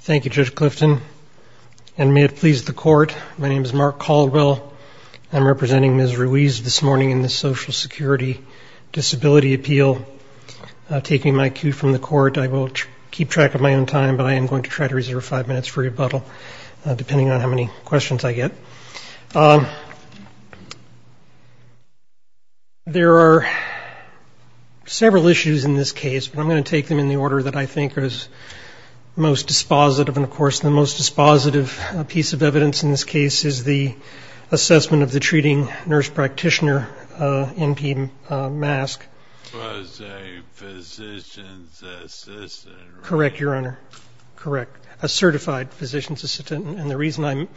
Thank You Judge Clifton and may it please the court my name is Mark Caldwell I'm representing Ms. Ruiz this morning in the Social Security Disability Appeal taking my cue from the court I will keep track of my own time but I am going to try to reserve five minutes for rebuttal depending on how many questions I get. There are several issues in this case but I'm going to take them in the order that I think is most dispositive and of course the most dispositive piece of evidence in this case is the assessment of the treating nurse practitioner in P.M. mask. Correct Your Honor correct a certified physician's assistant and the reason I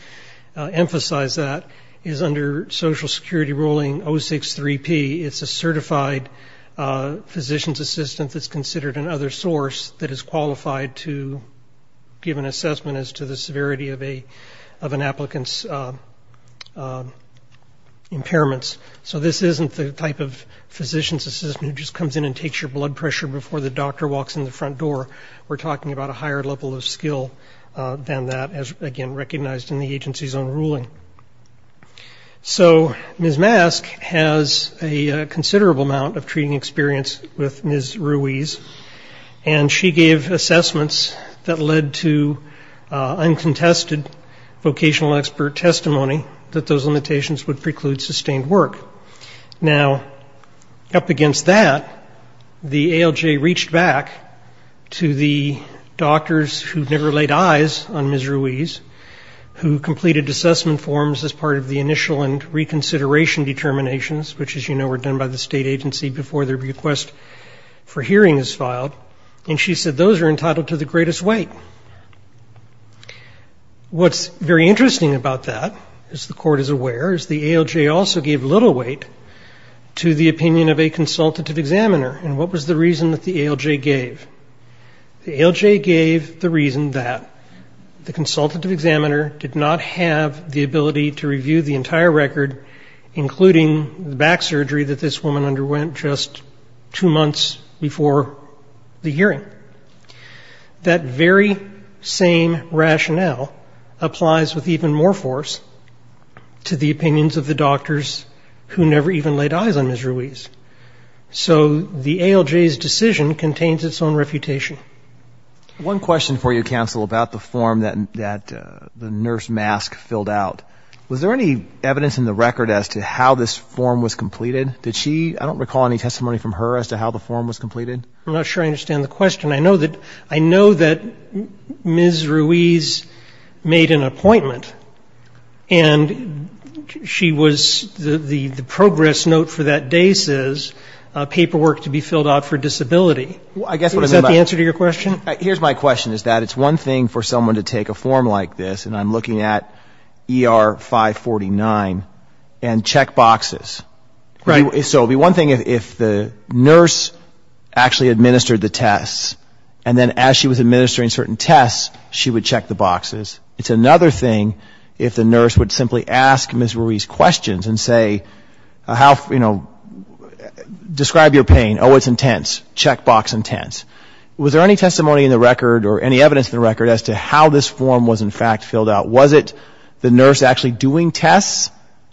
emphasize that is under Social Security ruling 063 P it's a certified physician's assistant that's considered an other source that is qualified to give an assessment as to the severity of a of an applicant's impairments so this isn't the type of physician's assistant who just comes in and takes your blood pressure before the doctor walks in the front door we're talking about a higher level of skill than that as again recognized in the considerable amount of treating experience with Ms. Ruiz and she gave assessments that led to uncontested vocational expert testimony that those limitations would preclude sustained work now up against that the ALJ reached back to the doctors who never laid eyes on Ms. Ruiz who completed assessment forms as part of the initial and reconsideration determinations which as you know were done by the state agency before their request for hearing is filed and she said those are entitled to the greatest weight what's very interesting about that as the court is aware is the ALJ also gave little weight to the opinion of a consultative examiner and what was the reason that the ALJ gave the ALJ gave the reason that the consultative examiner did not have the to the opinions of the doctors who never even laid eyes on Ms. Ruiz. So the ALJ's decision contains its own refutation. One question for you counsel about the form that that the nurse mask filled out was there any evidence in the record as to how this form was completed did she I don't recall any testimony from her as to how the form was completed. I'm not sure I understand the question I know that I know that Ms. Ruiz made an appointment and she was the progress note for that day says paperwork to be filled out for disability. Is that the answer to your question? Here's my question is that it's one thing for someone to take a form like this and I'm looking at ER 549 and check boxes. Right. So it would be one thing if the nurse actually administered the tests and then as she was administering certain tests she would check the boxes. It's another thing if the nurse would simply ask Ms. Ruiz questions and say how you know describe your pain oh it's intense check box intense. Was there any testimony in the record or how this form was in fact filled out. Was it the nurse actually doing tests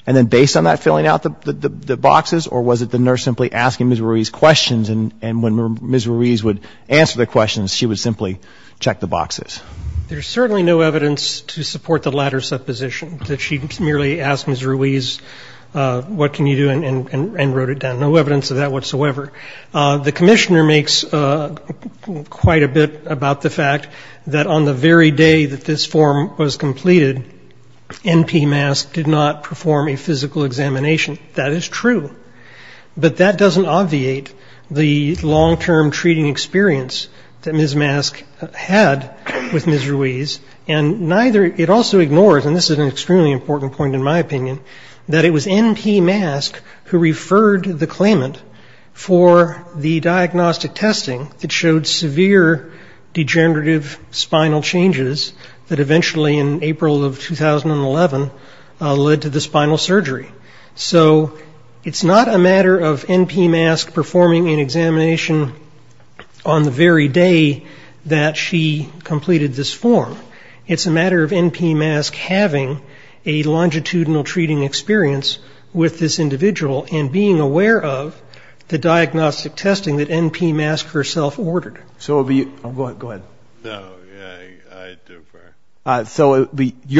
and then based on that filling out the boxes or was it the nurse simply asking Ms. Ruiz questions and when Ms. Ruiz would answer the questions she would simply check the boxes. There's certainly no evidence to support the latter supposition that she merely asked Ms. Ruiz what can you do and wrote it down. No evidence of that is true. But that doesn't obviate the long-term treating experience that Ms. Mask had with Ms. Ruiz and neither it also ignores and this is an extremely important point in my opinion that it was N.P. Mask who referred the claimant for the diagnostic testing that showed severe degenerative spinal changes that eventually in April of 2011 led to the spinal surgery. So it's not a matter of N.P. Mask performing an examination on the very day that she completed this form. It's a matter of N.P. Mask having a longitudinal treating experience with this individual and being aware of the diagnostic testing that N.P. Mask herself ordered. So your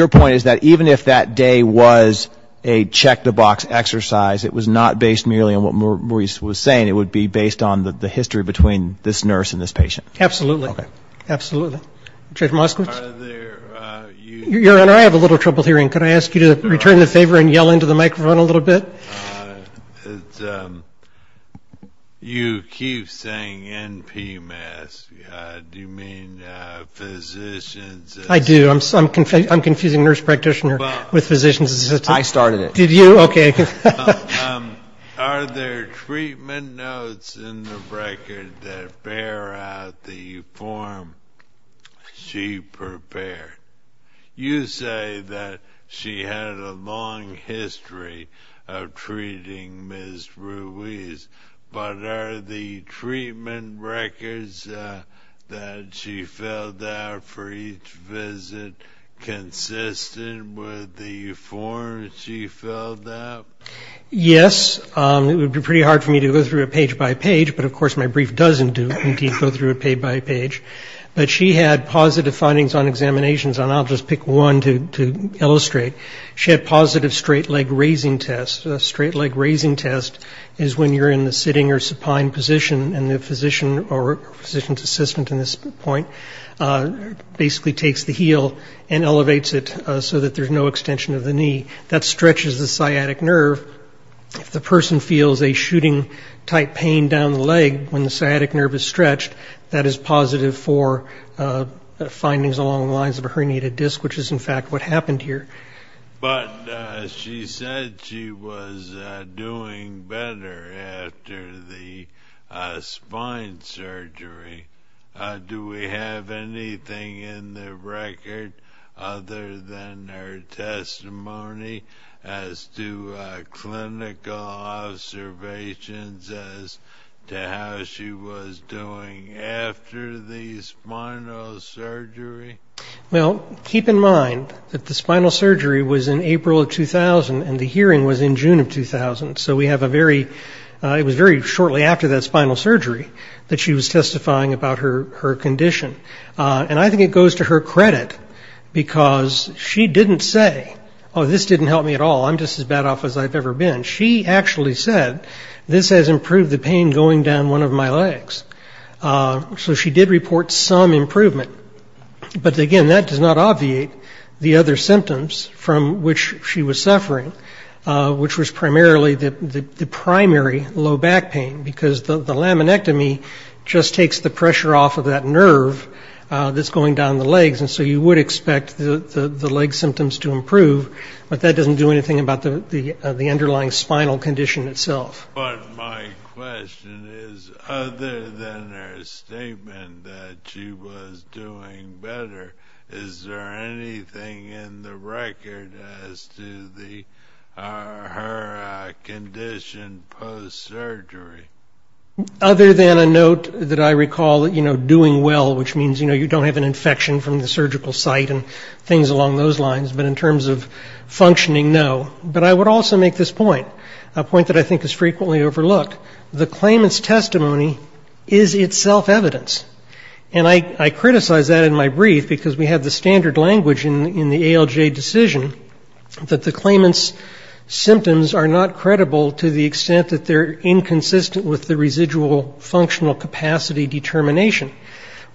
point is that even if that day was a check the box exercise, it was not based merely on what Ms. Ruiz was saying, it would be based on the history between this Absolutely. Absolutely. Your Honor, I have a little trouble hearing. Can I ask you to return the favor and yell into the microphone a little bit? You keep saying N.P. Mask. Do you mean physicians? I do. I'm confusing nurse practitioner with physicians. I started it. Are there treatment notes in the record that bear out the form she prepared? You say that she had a long history of treating Ms. Ruiz, but are the treatment records that she filled out for each visit consistent with the form she filled out Yes. It would be pretty hard for me to go through it page by page, but of course my brief doesn't do indeed go through it page by page. But she had positive findings on examinations, and I'll just pick one to illustrate. She had positive straight leg raising test. A straight leg raising test is when you're in the sitting or supine position, and the physician or physician's assistant in this point basically takes the sciatic nerve. If the person feels a shooting type pain down the leg when the sciatic nerve is stretched, that is positive for findings along the lines of a herniated disc, which is in fact what happened here. But she said she was doing better after the spine surgery. Do we have anything in the record other than her clinical observations as to how she was doing after the spinal surgery? Well, keep in mind that the spinal surgery was in April of 2000, and the hearing was in June of 2000, so we have a very, it was very shortly after that spinal surgery that she was testifying about her condition. And I think it goes to her credit, because she didn't say, oh, this didn't help me at all, I'm just as bad as I used to be. She actually said, this has improved the pain going down one of my legs. So she did report some improvement, but again, that does not obviate the other symptoms from which she was suffering, which was primarily the primary low back pain, because the laminectomy just takes the pressure off of that nerve that's going down the legs, and so you would expect the leg symptoms to improve, but that doesn't do anything about the underlying spinal condition itself. But my question is, other than her statement that she was doing better, is there anything in the record as to her condition post-surgery? Other than a note that I recall, you know, doing well, which means you don't have an infection from the surgical site and things along those lines, but in terms of functioning, no. But I would also make this point, a point that I think is frequently overlooked. The claimant's testimony is itself evidence. And I criticize that in my brief, because we have the standard language in the ALJ decision that the claimant's testimonies are inconsistent with the residual functional capacity determination.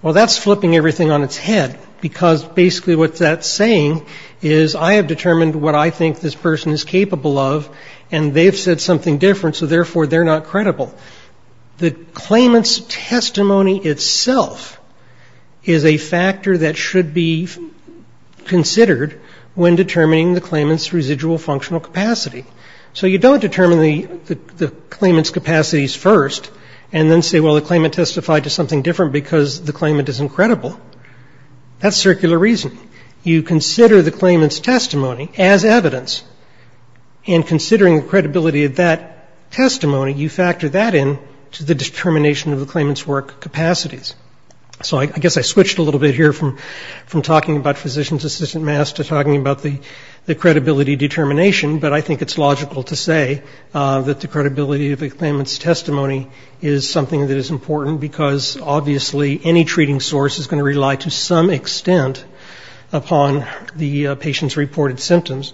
Well, that's flipping everything on its head, because basically what that's saying is I have determined what I think this person is capable of, and they have said something different, so therefore they're not credible. The claimant's testimony itself is a factor that should be considered when determining the claimant's residual functional capacity. So you don't determine the claimant's capacities first and then say, well, the claimant testified to something different because the claimant isn't credible. That's circular reasoning. You consider the claimant's testimony as evidence, and considering the credibility of that testimony, you factor that in to the determination of the claimant's work capacities. So I guess I switched a little bit here from talking about physician's assistant mass to talking about the credibility determination, but I think it's logical to say that the credibility of a claimant's testimony is something that is important, because obviously any treating source is going to rely to some extent upon the patient's reported symptoms.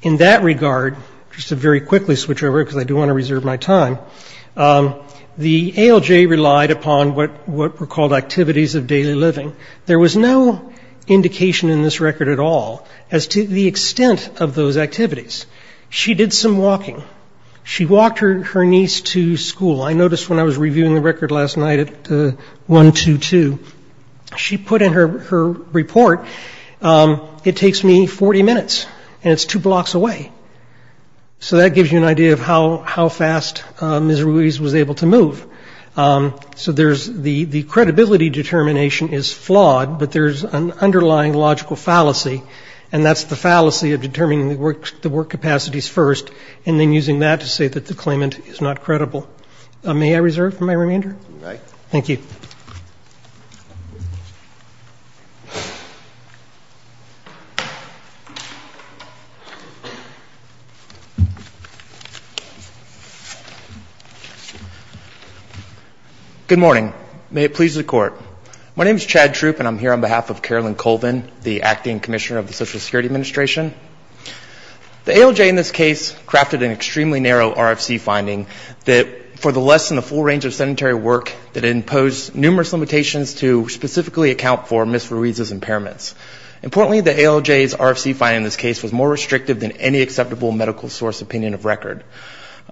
In that regard, just to very quickly switch over, because I do want to reserve my time, the ALJ relied upon what were called activities of daily living. There was no indication in this record at all as to the extent of those activities of daily living. She did some walking. She walked her niece to school. I noticed when I was reviewing the record last night at 122, she put in her report, it takes me 40 minutes, and it's two blocks away. So that gives you an idea of how fast Ms. Ruiz was able to move. So there's the credibility determination is flawed, but there's an underlying logical fallacy, and that's the fallacy of determining the work capacities first and then using that to say that the claimant is not credible. May I reserve for my remainder? Thank you. Good morning. May it please the Court. My name is Chad Troop, and I'm here on behalf of Carolyn Colvin, the Acting Commissioner of the Social Security Administration. The ALJ in this case crafted an extremely narrow RFC finding that for the less than the full range of sedentary work that it imposed numerous limitations to specifically account for Ms. Ruiz's impairments. Importantly, the ALJ's RFC finding in this case was more restrictive than any acceptable medical source opinion of record.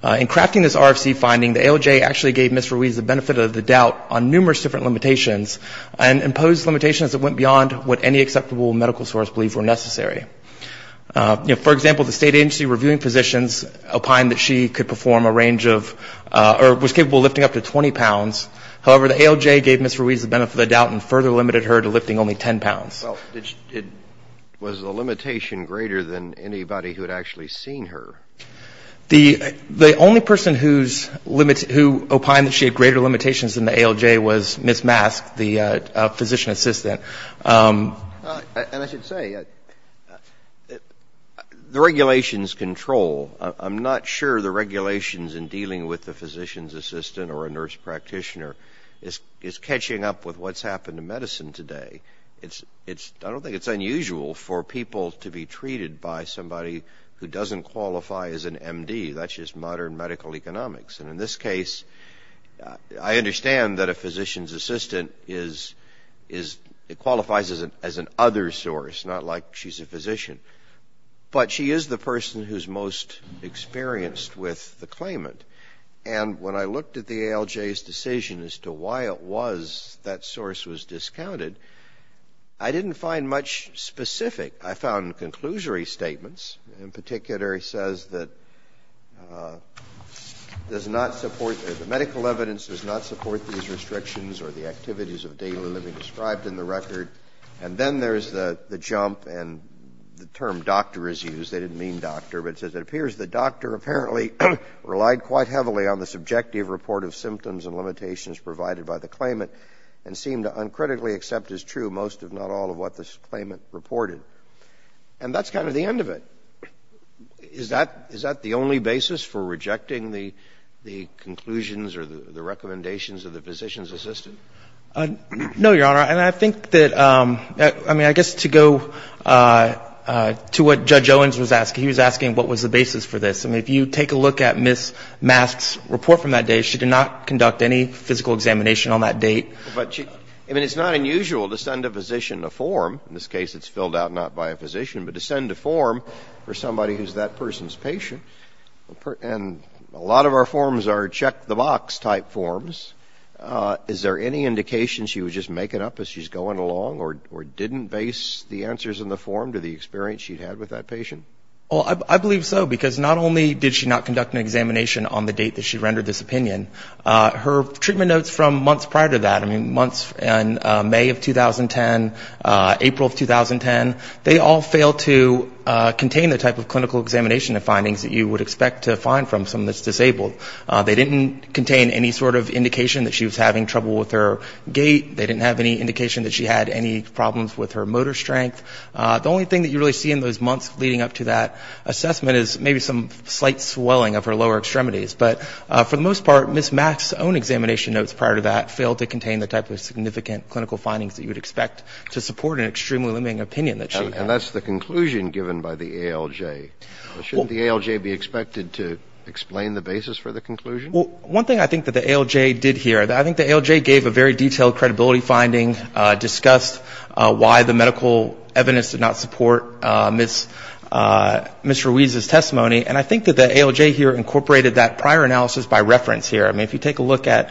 In crafting this RFC finding, the ALJ actually gave Ms. Ruiz the benefit of the doubt on numerous different limitations and imposed limitations that went beyond what any acceptable medical source believed were necessary. For example, the state agency reviewing positions opined that she could perform a range of or was capable of lifting up to 20 pounds. However, the ALJ gave Ms. Ruiz the benefit of the doubt and further limited her to lifting only 10 pounds. Well, was the limitation greater than anybody who had actually seen her? The only person who opined that she had greater limitations than the ALJ was Ms. Matthews. And I should say, the regulations control. I'm not sure the regulations in dealing with the physician's assistant or a nurse practitioner is catching up with what's happened in medicine today. I don't think it's unusual for people to be treated by somebody who doesn't qualify as an MD. That's just modern medical economics. And in this case, I understand that a physician's assistant qualifies as an other source, not like she's a physician. But she is the person who's most experienced with the claimant. And when I looked at the ALJ's decision as to why it was that source was discounted, I didn't find much specific. I found conclusory statements. In particular, it says that the claimant does not support the medical evidence, does not support these restrictions or the activities of daily living described in the record. And then there's the jump and the term doctor is used. They didn't mean doctor, but it says it appears the doctor apparently relied quite heavily on the subjective report of symptoms and limitations provided by the claimant and seemed to uncritically accept as true most, if not all, of what the claimant reported. And that's kind of the end of it. Is that the only basis for rejecting the conclusions or the recommendations of the physician's assistant? No, Your Honor. And I think that, I mean, I guess to go to what Judge Owens was asking, he was asking what was the basis for this. I mean, if you take a look at Ms. Mask's report from that day, she did not conduct any physical examination on that date. But, I mean, it's not unusual to send a physician a form. In this case, it's filled out not by a physician, but to send a form for somebody who's that person's patient. And a lot of our forms are check-the-box type forms. Is there any indication she was just making up as she's going along or didn't base the answers in the form to the experience she'd had with that patient? Well, I believe so, because not only did she not conduct an examination on the date that she rendered this opinion, her treatment notes from months prior to that, I mean, months in May of 2010, April of 2010, they all failed to contain the type of clinical examination and findings that you would expect to find from someone that's disabled. They didn't contain any sort of indication that she was having trouble with her gait. They didn't have any indication that she had any problems with her motor strength. The only thing that you really see in those months leading up to that assessment is maybe some slight swelling of her lower extremities. But for the most part, Ms. Mask's own examination notes prior to that failed to contain the type of significant clinical findings that you would expect to support an extremely limiting opinion that she had. And that's the conclusion given by the ALJ. Shouldn't the ALJ be expected to explain the basis for the conclusion? Well, one thing I think that the ALJ did here, I think the ALJ gave a very detailed credibility finding, discussed why the medical evidence did not support Ms. Ruiz's testimony. And I think that the ALJ here incorporated that prior analysis by reference here. I mean, if you take a look at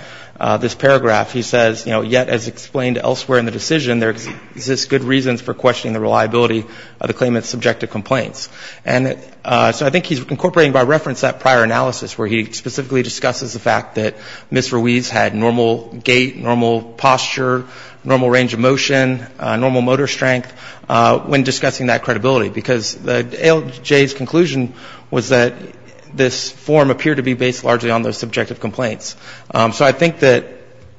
this paragraph, he says, you know, yet as explained elsewhere in the decision, there exists good reasons for questioning the reliability of the claimant's subjective complaints. And so I think he's incorporating by reference that prior analysis where he specifically discusses the fact that Ms. Ruiz had normal gait, normal posture, normal range of motion, normal motor strength when discussing that credibility. Because the ALJ's conclusion was that this form appeared to be based largely on those subjective complaints. So I think that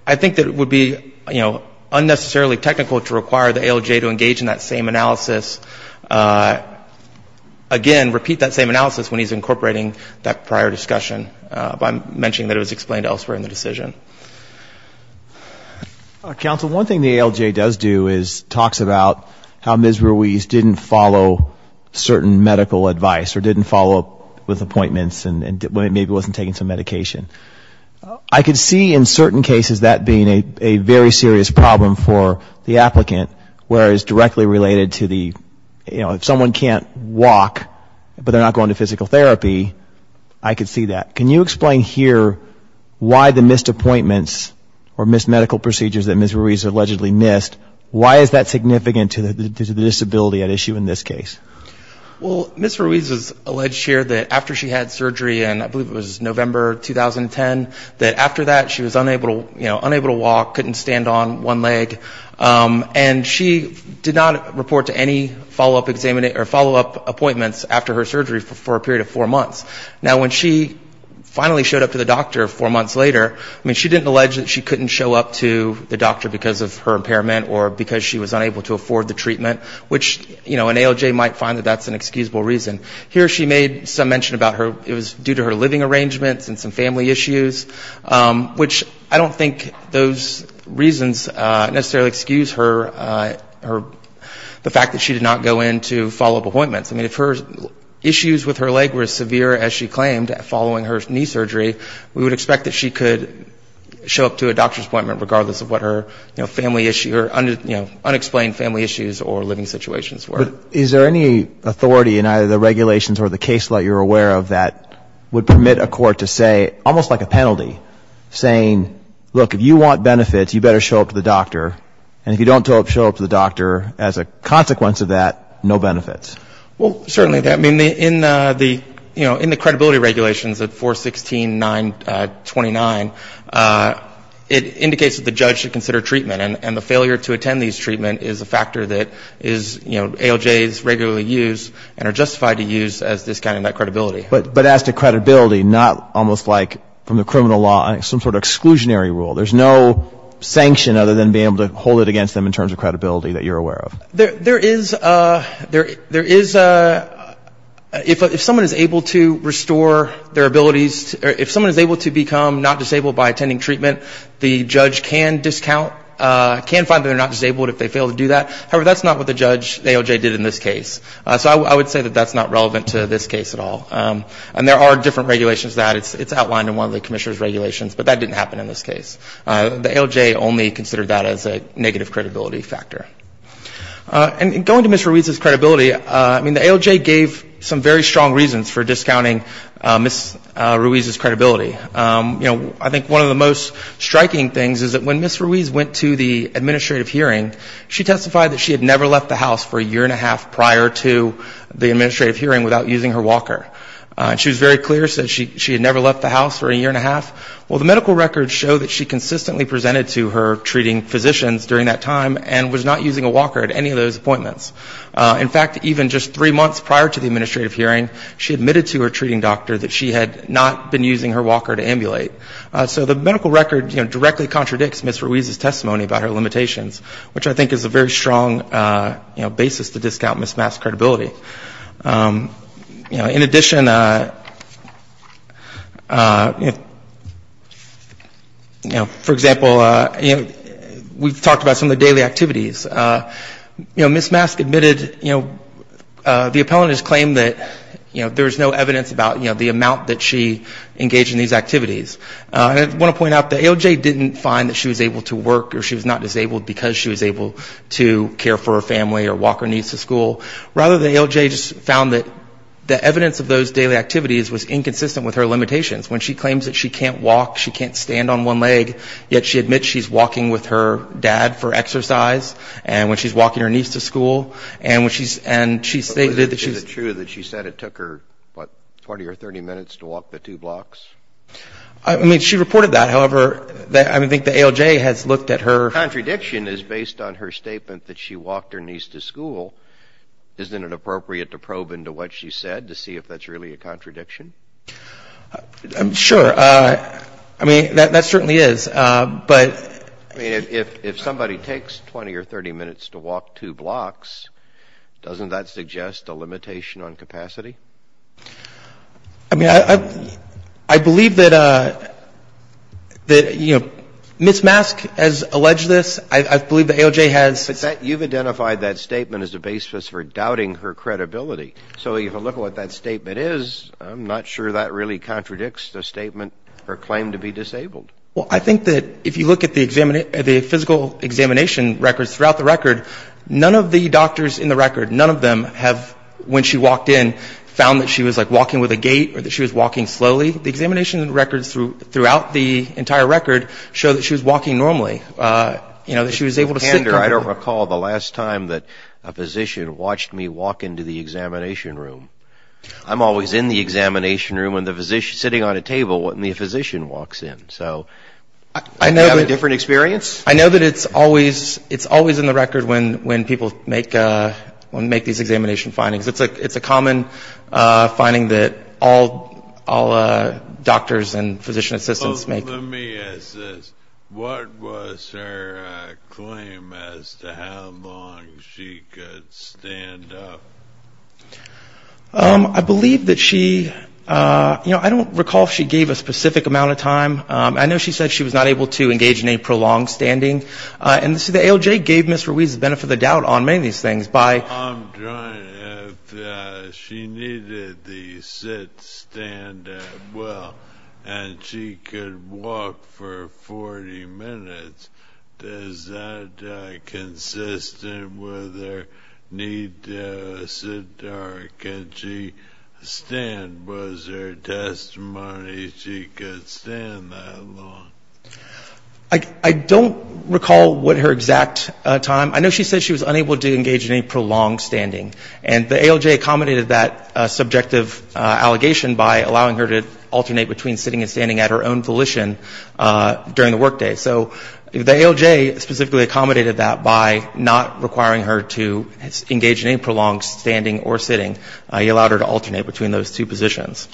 it would be, you know, unnecessarily technical to require the ALJ to engage in that same analysis. Again, repeat that same analysis when he's incorporating that prior discussion by mentioning that it was explained elsewhere in the decision. Counsel, one thing the ALJ does do is talks about how Ms. Ruiz didn't follow certain medical advice or didn't follow up with appointments and maybe wasn't taking some medication. I could see in certain cases that being a very serious problem for the patient, they're not going to walk, but they're not going to physical therapy. I could see that. Can you explain here why the missed appointments or missed medical procedures that Ms. Ruiz allegedly missed, why is that significant to the disability at issue in this case? Well, Ms. Ruiz is alleged here that after she had surgery, and I believe it was November 2010, that after that she was unable to walk, couldn't stand on one leg, and she did not report to any follow-up appointment. She did not report to any follow-up appointments after her surgery for a period of four months. Now, when she finally showed up to the doctor four months later, I mean, she didn't allege that she couldn't show up to the doctor because of her impairment or because she was unable to afford the treatment, which, you know, an ALJ might find that that's an excusable reason. Here she made some mention about it was due to her living arrangements and some family issues, which I don't think those reasons necessarily excuse her, the fact that she did not go in to follow-up appointments. So if her issues with her leg were as severe as she claimed following her knee surgery, we would expect that she could show up to a doctor's appointment regardless of what her family issue or unexplained family issues or living situations were. But is there any authority in either the regulations or the case law that you're aware of that would permit a court to say, almost like a penalty, saying, look, if you want benefits, you better show up to the doctor, and if you don't show up to the doctor, you better not show up to the doctor? I mean, in the credibility regulations at 416.929, it indicates that the judge should consider treatment, and the failure to attend these treatment is a factor that is, you know, ALJs regularly use and are justified to use as discounting that credibility. But as to credibility, not almost like from the criminal law, some sort of exclusionary rule. There's no sanction other than being able to hold it against them in terms of credibility that you're aware of. There is a, there is a, if someone is able to restore their abilities, if someone is able to become not disabled by attending treatment, the judge can discount, can find that they're not disabled if they fail to do that. However, that's not what the judge, ALJ, did in this case. So I would say that that's not relevant to this case at all. And there are different regulations that it's outlined in one of the commissioner's regulations, but that didn't happen in this case. The ALJ only considered that as a negative credibility factor. And going to Ms. Ruiz's credibility, I mean, the ALJ gave some very strong reasons for discounting Ms. Ruiz's credibility. You know, I think one of the most striking things is that when Ms. Ruiz went to the administrative hearing, she testified that she had never left the house for a year and a half prior to the administrative hearing without using her walker. And she was very clear, said she had never left the house for a year and a half. Well, the medical records show that she consistently presented to her treating physicians during that time and was not using a walker at any of those appointments. In fact, even just three months prior to the administrative hearing, she admitted to her treating doctor that she had not been using her walker to ambulate. So the medical record, you know, directly contradicts Ms. Ruiz's testimony about her limitations, which I think is a very strong, you know, basis to believe that Ms. Ruiz was not using her walker. You know, for example, you know, we've talked about some of the daily activities. You know, Ms. Mask admitted, you know, the appellant has claimed that, you know, there's no evidence about, you know, the amount that she engaged in these activities. And I want to point out that ALJ didn't find that she was able to work or she was not disabled because she was able to care for her family or walk her niece to school. Rather, the ALJ just found that the evidence of those daily activities was inconsistent with her limitations. When she claims that she can't walk, she can't stand on one leg, yet she admits she's walking with her dad for exercise. And when she's walking her niece to school, and when she's, and she stated that she's... Is it true that she said it took her, what, 20 or 30 minutes to walk the two blocks? I mean, she reported that. However, I think the ALJ has looked at her... Isn't it appropriate to probe into what she said to see if that's really a contradiction? Sure. I mean, that certainly is, but... I mean, if somebody takes 20 or 30 minutes to walk two blocks, doesn't that suggest a limitation on capacity? I mean, I believe that, you know, Ms. Mask has alleged this. I believe the ALJ has... But you've identified that statement as a basis for doubting her credibility. So if you look at what that statement is, I'm not sure that really contradicts the statement, her claim to be disabled. Well, I think that if you look at the physical examination records throughout the record, none of the doctors in the record, none of them have, when she walked in, found that she was, like, walking with a gait, or that she was walking slowly. The examination records throughout the entire record show that she was walking normally, you know, that she was able to sit comfortably. I don't recall the last time that a physician watched me walk into the examination room. I'm always in the examination room, sitting on a table when the physician walks in, so... Do you have a different experience? I know that it's always in the record when people make these examination findings. It's a common finding that all doctors and physician assistants make. Well, let me ask this. What was her claim as to how long she could stand up? I believe that she, you know, I don't recall if she gave a specific amount of time. I know she said she was not able to engage in any prolonged standing. And the ALJ gave Ms. Ruiz the benefit of the doubt on many of these things by... I'm trying, if she needed to sit, stand well, and she could walk for 40 minutes, is that consistent with her need to sit, or could she stand? Was there testimony she could stand that long? I don't recall what her exact time. I know she said she was unable to engage in any prolonged standing. And the ALJ accommodated that subjective allegation by allowing her to alternate between sitting and standing at her own volition during the work day. So the ALJ specifically accommodated that by not requiring her to engage in any prolonged standing or sitting. It allowed her to alternate between those two positions.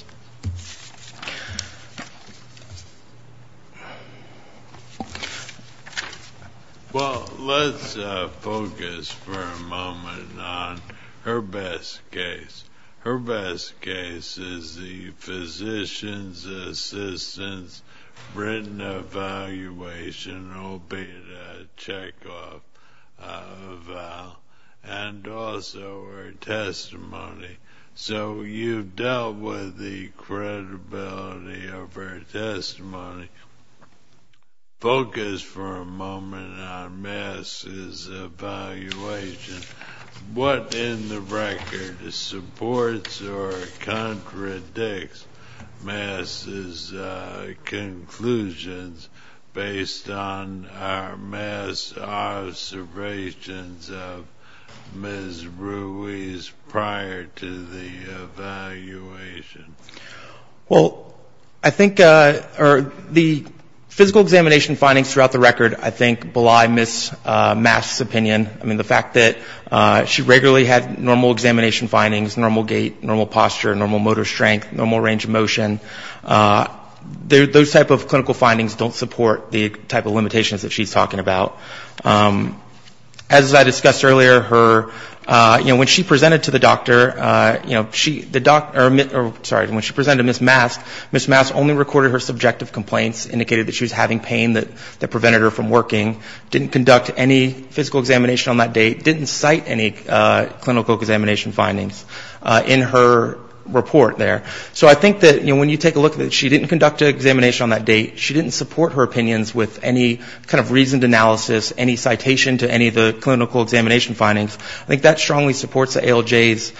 Well, let's focus for a moment on her best case. Her best case is the physician's assistant's written evaluation, albeit a check-off, and also her testimony. So you've dealt with the credibility of her testimony. Focus for a moment on Mass's evaluation. What, in the record, supports or contradicts Mass's conclusions based on Mass's observations of Ms. Ruiz prior to her testimony? Or to the evaluation? Well, I think the physical examination findings throughout the record, I think belie Miss Mass's opinion. I mean, the fact that she regularly had normal examination findings, normal gait, normal posture, normal motor strength, normal range of motion. Those type of clinical findings don't support the type of limitations that she's talking about. As I discussed earlier, when she presented to the doctor, when she presented to Ms. Mass, Ms. Mass only recorded her subjective complaints, indicated that she was having pain that prevented her from working, didn't conduct any physical examination on that date, didn't cite any clinical examination findings in her report there. So I think that when you take a look at it, she didn't conduct an examination on that date, she didn't support her opinions with any kind of reasoned analysis, any citation to any of the clinical examination findings. I think that strongly supports the ALJ's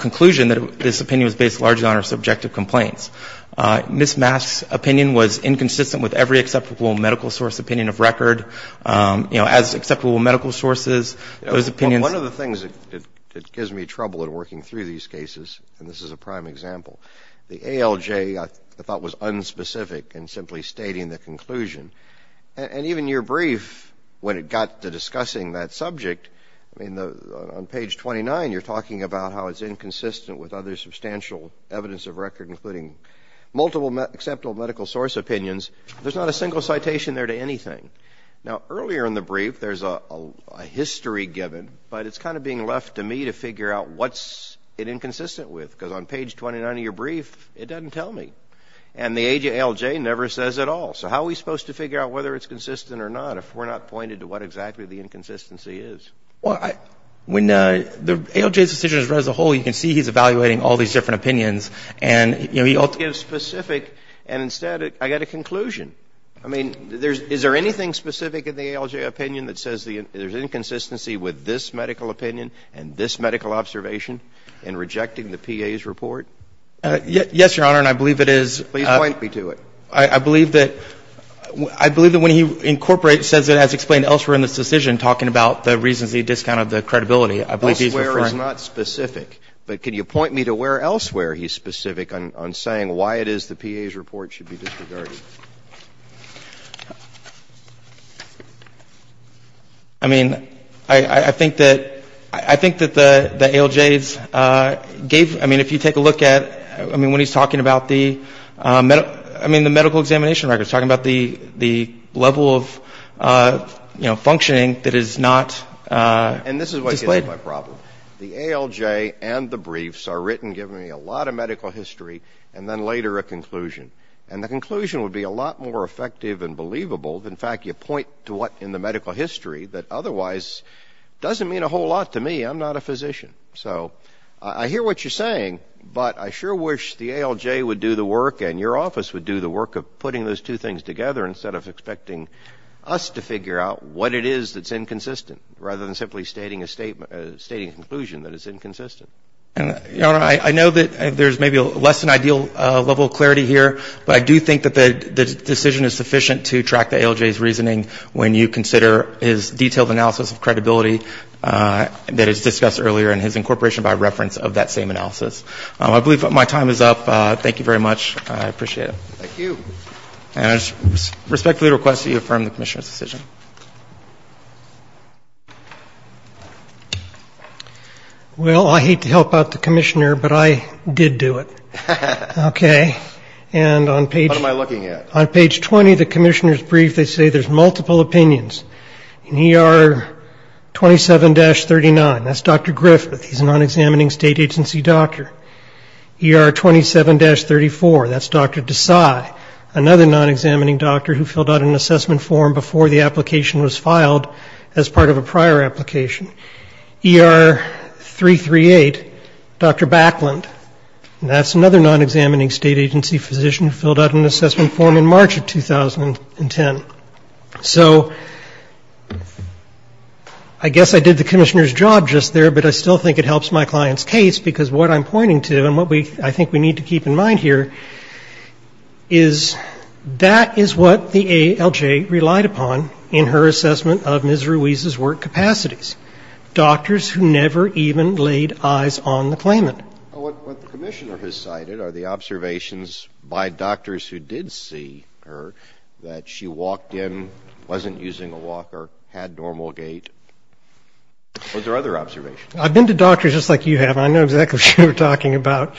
conclusion that this opinion was based largely on her subjective complaints. Ms. Mass's opinion was inconsistent with every acceptable medical source opinion of record. As acceptable medical sources, those opinions... And even your brief, when it got to discussing that subject, I mean, on page 29, you're talking about how it's inconsistent with other substantial evidence of record, including multiple acceptable medical source opinions. There's not a single citation there to anything. Now, earlier in the brief, there's a history given, but it's kind of being left to me to figure out what's it inconsistent with, because it never says at all. So how are we supposed to figure out whether it's consistent or not if we're not pointed to what exactly the inconsistency is? Well, when the ALJ's decision is read as a whole, you can see he's evaluating all these different opinions, and, you know, he ultimately gives specific, and instead I get a conclusion. I mean, is there anything specific in the ALJ opinion that says there's inconsistency with this medical opinion and this medical observation in rejecting the PA's report? Yes, Your Honor, and I believe it is. Please point me to it. I believe that when he incorporates, it says it has explained elsewhere in this decision, talking about the reasons he discounted the credibility. Elsewhere is not specific. But could you point me to where elsewhere he's specific on saying why it is the PA's report should be disregarded? I mean, I think that the ALJ's gave, I mean, if you take a look at, I mean, when he's talking about the, I mean, the medical examination records, talking about the level of, you know, functioning that is not displayed. And this is what gives me my problem. The ALJ and the briefs are written giving me a lot of medical history and then later a conclusion. And the conclusion would be a lot more effective and believable. In fact, you point to what in the medical history that otherwise doesn't mean a whole lot to me. I'm not a physician. So I hear what you're saying, but I sure wish the ALJ would do the work and your office would do the work of putting those two things together instead of expecting us to figure out what it is that's inconsistent rather than simply stating a statement, stating a conclusion that it's inconsistent. I know that there's maybe less than ideal level of clarity here, but I do think that the decision is sufficient to track the ALJ's reasoning when you consider his detailed analysis of credibility that is discussed earlier and his incorporation by reference of that same analysis. I believe my time is up. Thank you very much. I appreciate it. Thank you. And I respectfully request that you affirm the commissioner's decision. Well, I hate to help out the commissioner, but I did do it. Okay. What am I looking at? On page 20, the commissioner's brief, they say there's multiple opinions. In ER 27-39, that's Dr. Griffith, he's a non-examining state agency doctor. ER 27-34, that's Dr. Desai, another non-examining doctor who filled out an assessment form before the application was filed as part of a prior application. ER 338, Dr. Backlund, that's another non-examining state agency physician who filled out an assessment form in March of 2010. So I guess I did the commissioner's job just there, but I still think it helps my client's case, because what I'm pointing to and what I think we need to keep in mind here is that is what the ALJ relied upon in her assessment of Ms. Ruiz's work capacities, doctors who never even laid eyes on the claimant. What the commissioner has cited are the observations by doctors who did see her that she walked in, wasn't using a walker, had normal gait. Were there other observations? I've been to doctors just like you have. I know exactly what you're talking about.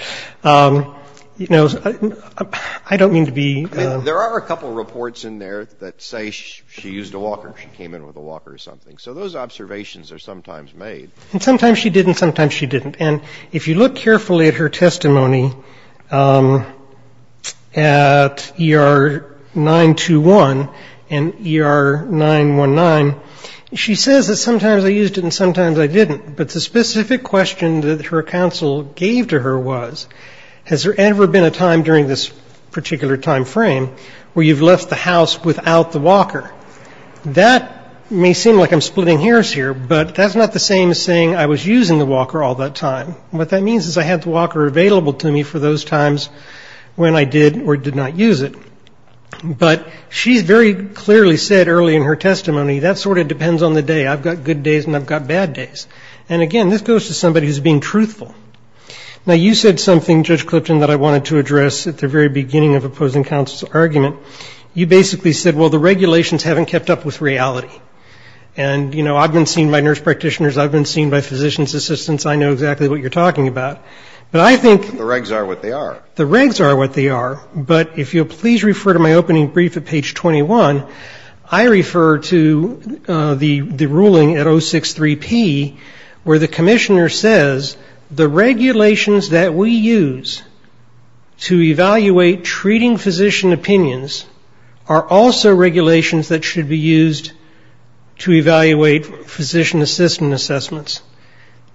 You know, I don't mean to be ---- I mean, there are a couple reports in there that say she used a walker, she came in with a walker or something. So those observations are sometimes made. And sometimes she did and sometimes she didn't. And if you look carefully at her testimony at ER 921 and ER 919, she says that sometimes I used it and sometimes I didn't. But the specific question that her counsel gave to her was, has there ever been a time during this particular time frame where you've left the house without the walker? That may seem like I'm splitting hairs here, but that's not the same as saying I was using the walker all that time. What that means is I had the walker available to me for those times when I did or did not use it. But she very clearly said early in her testimony, that sort of depends on the day. I've got good days and I've got bad days. And again, this goes to somebody who's being truthful. Now, you said something, Judge Clipton, that I wanted to address at the very beginning of opposing counsel's argument. You basically said, well, the regulations haven't kept up with reality. And, you know, I've been seen by nurse practitioners, I've been seen by physician's assistants, I know exactly what you're talking about. But I think ---- One, I refer to the ruling at 063P where the commissioner says the regulations that we use to evaluate treating physician opinions are also regulations that should be used to evaluate physician assistant assessments.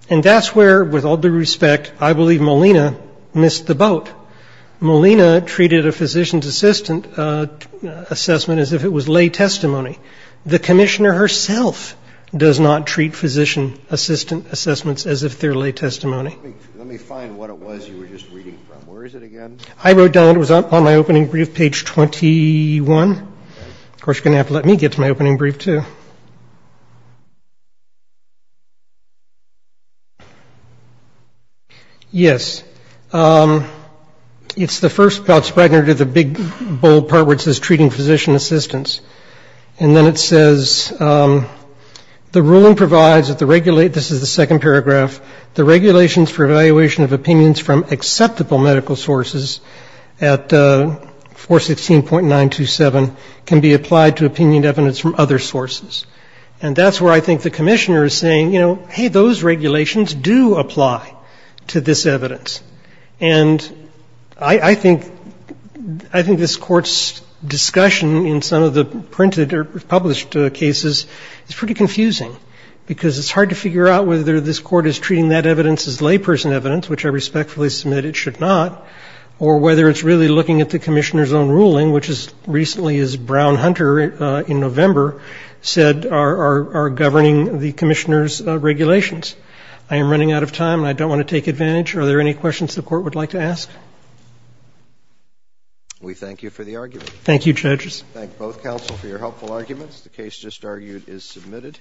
And that's where, with all due respect, I believe Molina missed the boat. Molina treated a physician's assistant assessment as if it was lay testimony. The commissioner herself does not treat physician assistant assessments as if they're lay testimony. Let me find what it was you were just reading from. Where is it again? I wrote down, it was on my opening brief, page 21. Of course, you're going to have to let me get to my opening brief too. Yes. It's the first part of the big bold part where it says treating physician assistants. And then it says the ruling provides that the ---- this is the second paragraph ---- the regulations for evaluation of opinions from acceptable medical sources at 416.927 can be applied to opinion evidence from other sources. And that's where I think the commissioner is saying, you know, hey, those regulations do apply to this evidence. And I think this Court's discussion in some of the printed or published cases is pretty confusing, because it's hard to figure out whether this Court is treating that evidence as layperson evidence, which I respectfully submit it should not, or whether it's really looking at the commissioner's own ruling, which is recently, as Brown-Hunter in November said, are governing the commissioner's regulations. I am running out of time, and I don't want to take advantage. Are there any questions the Court would like to ask? We thank you for the argument. Thank you, judges. We thank both counsel for your helpful arguments. The case just argued is submitted.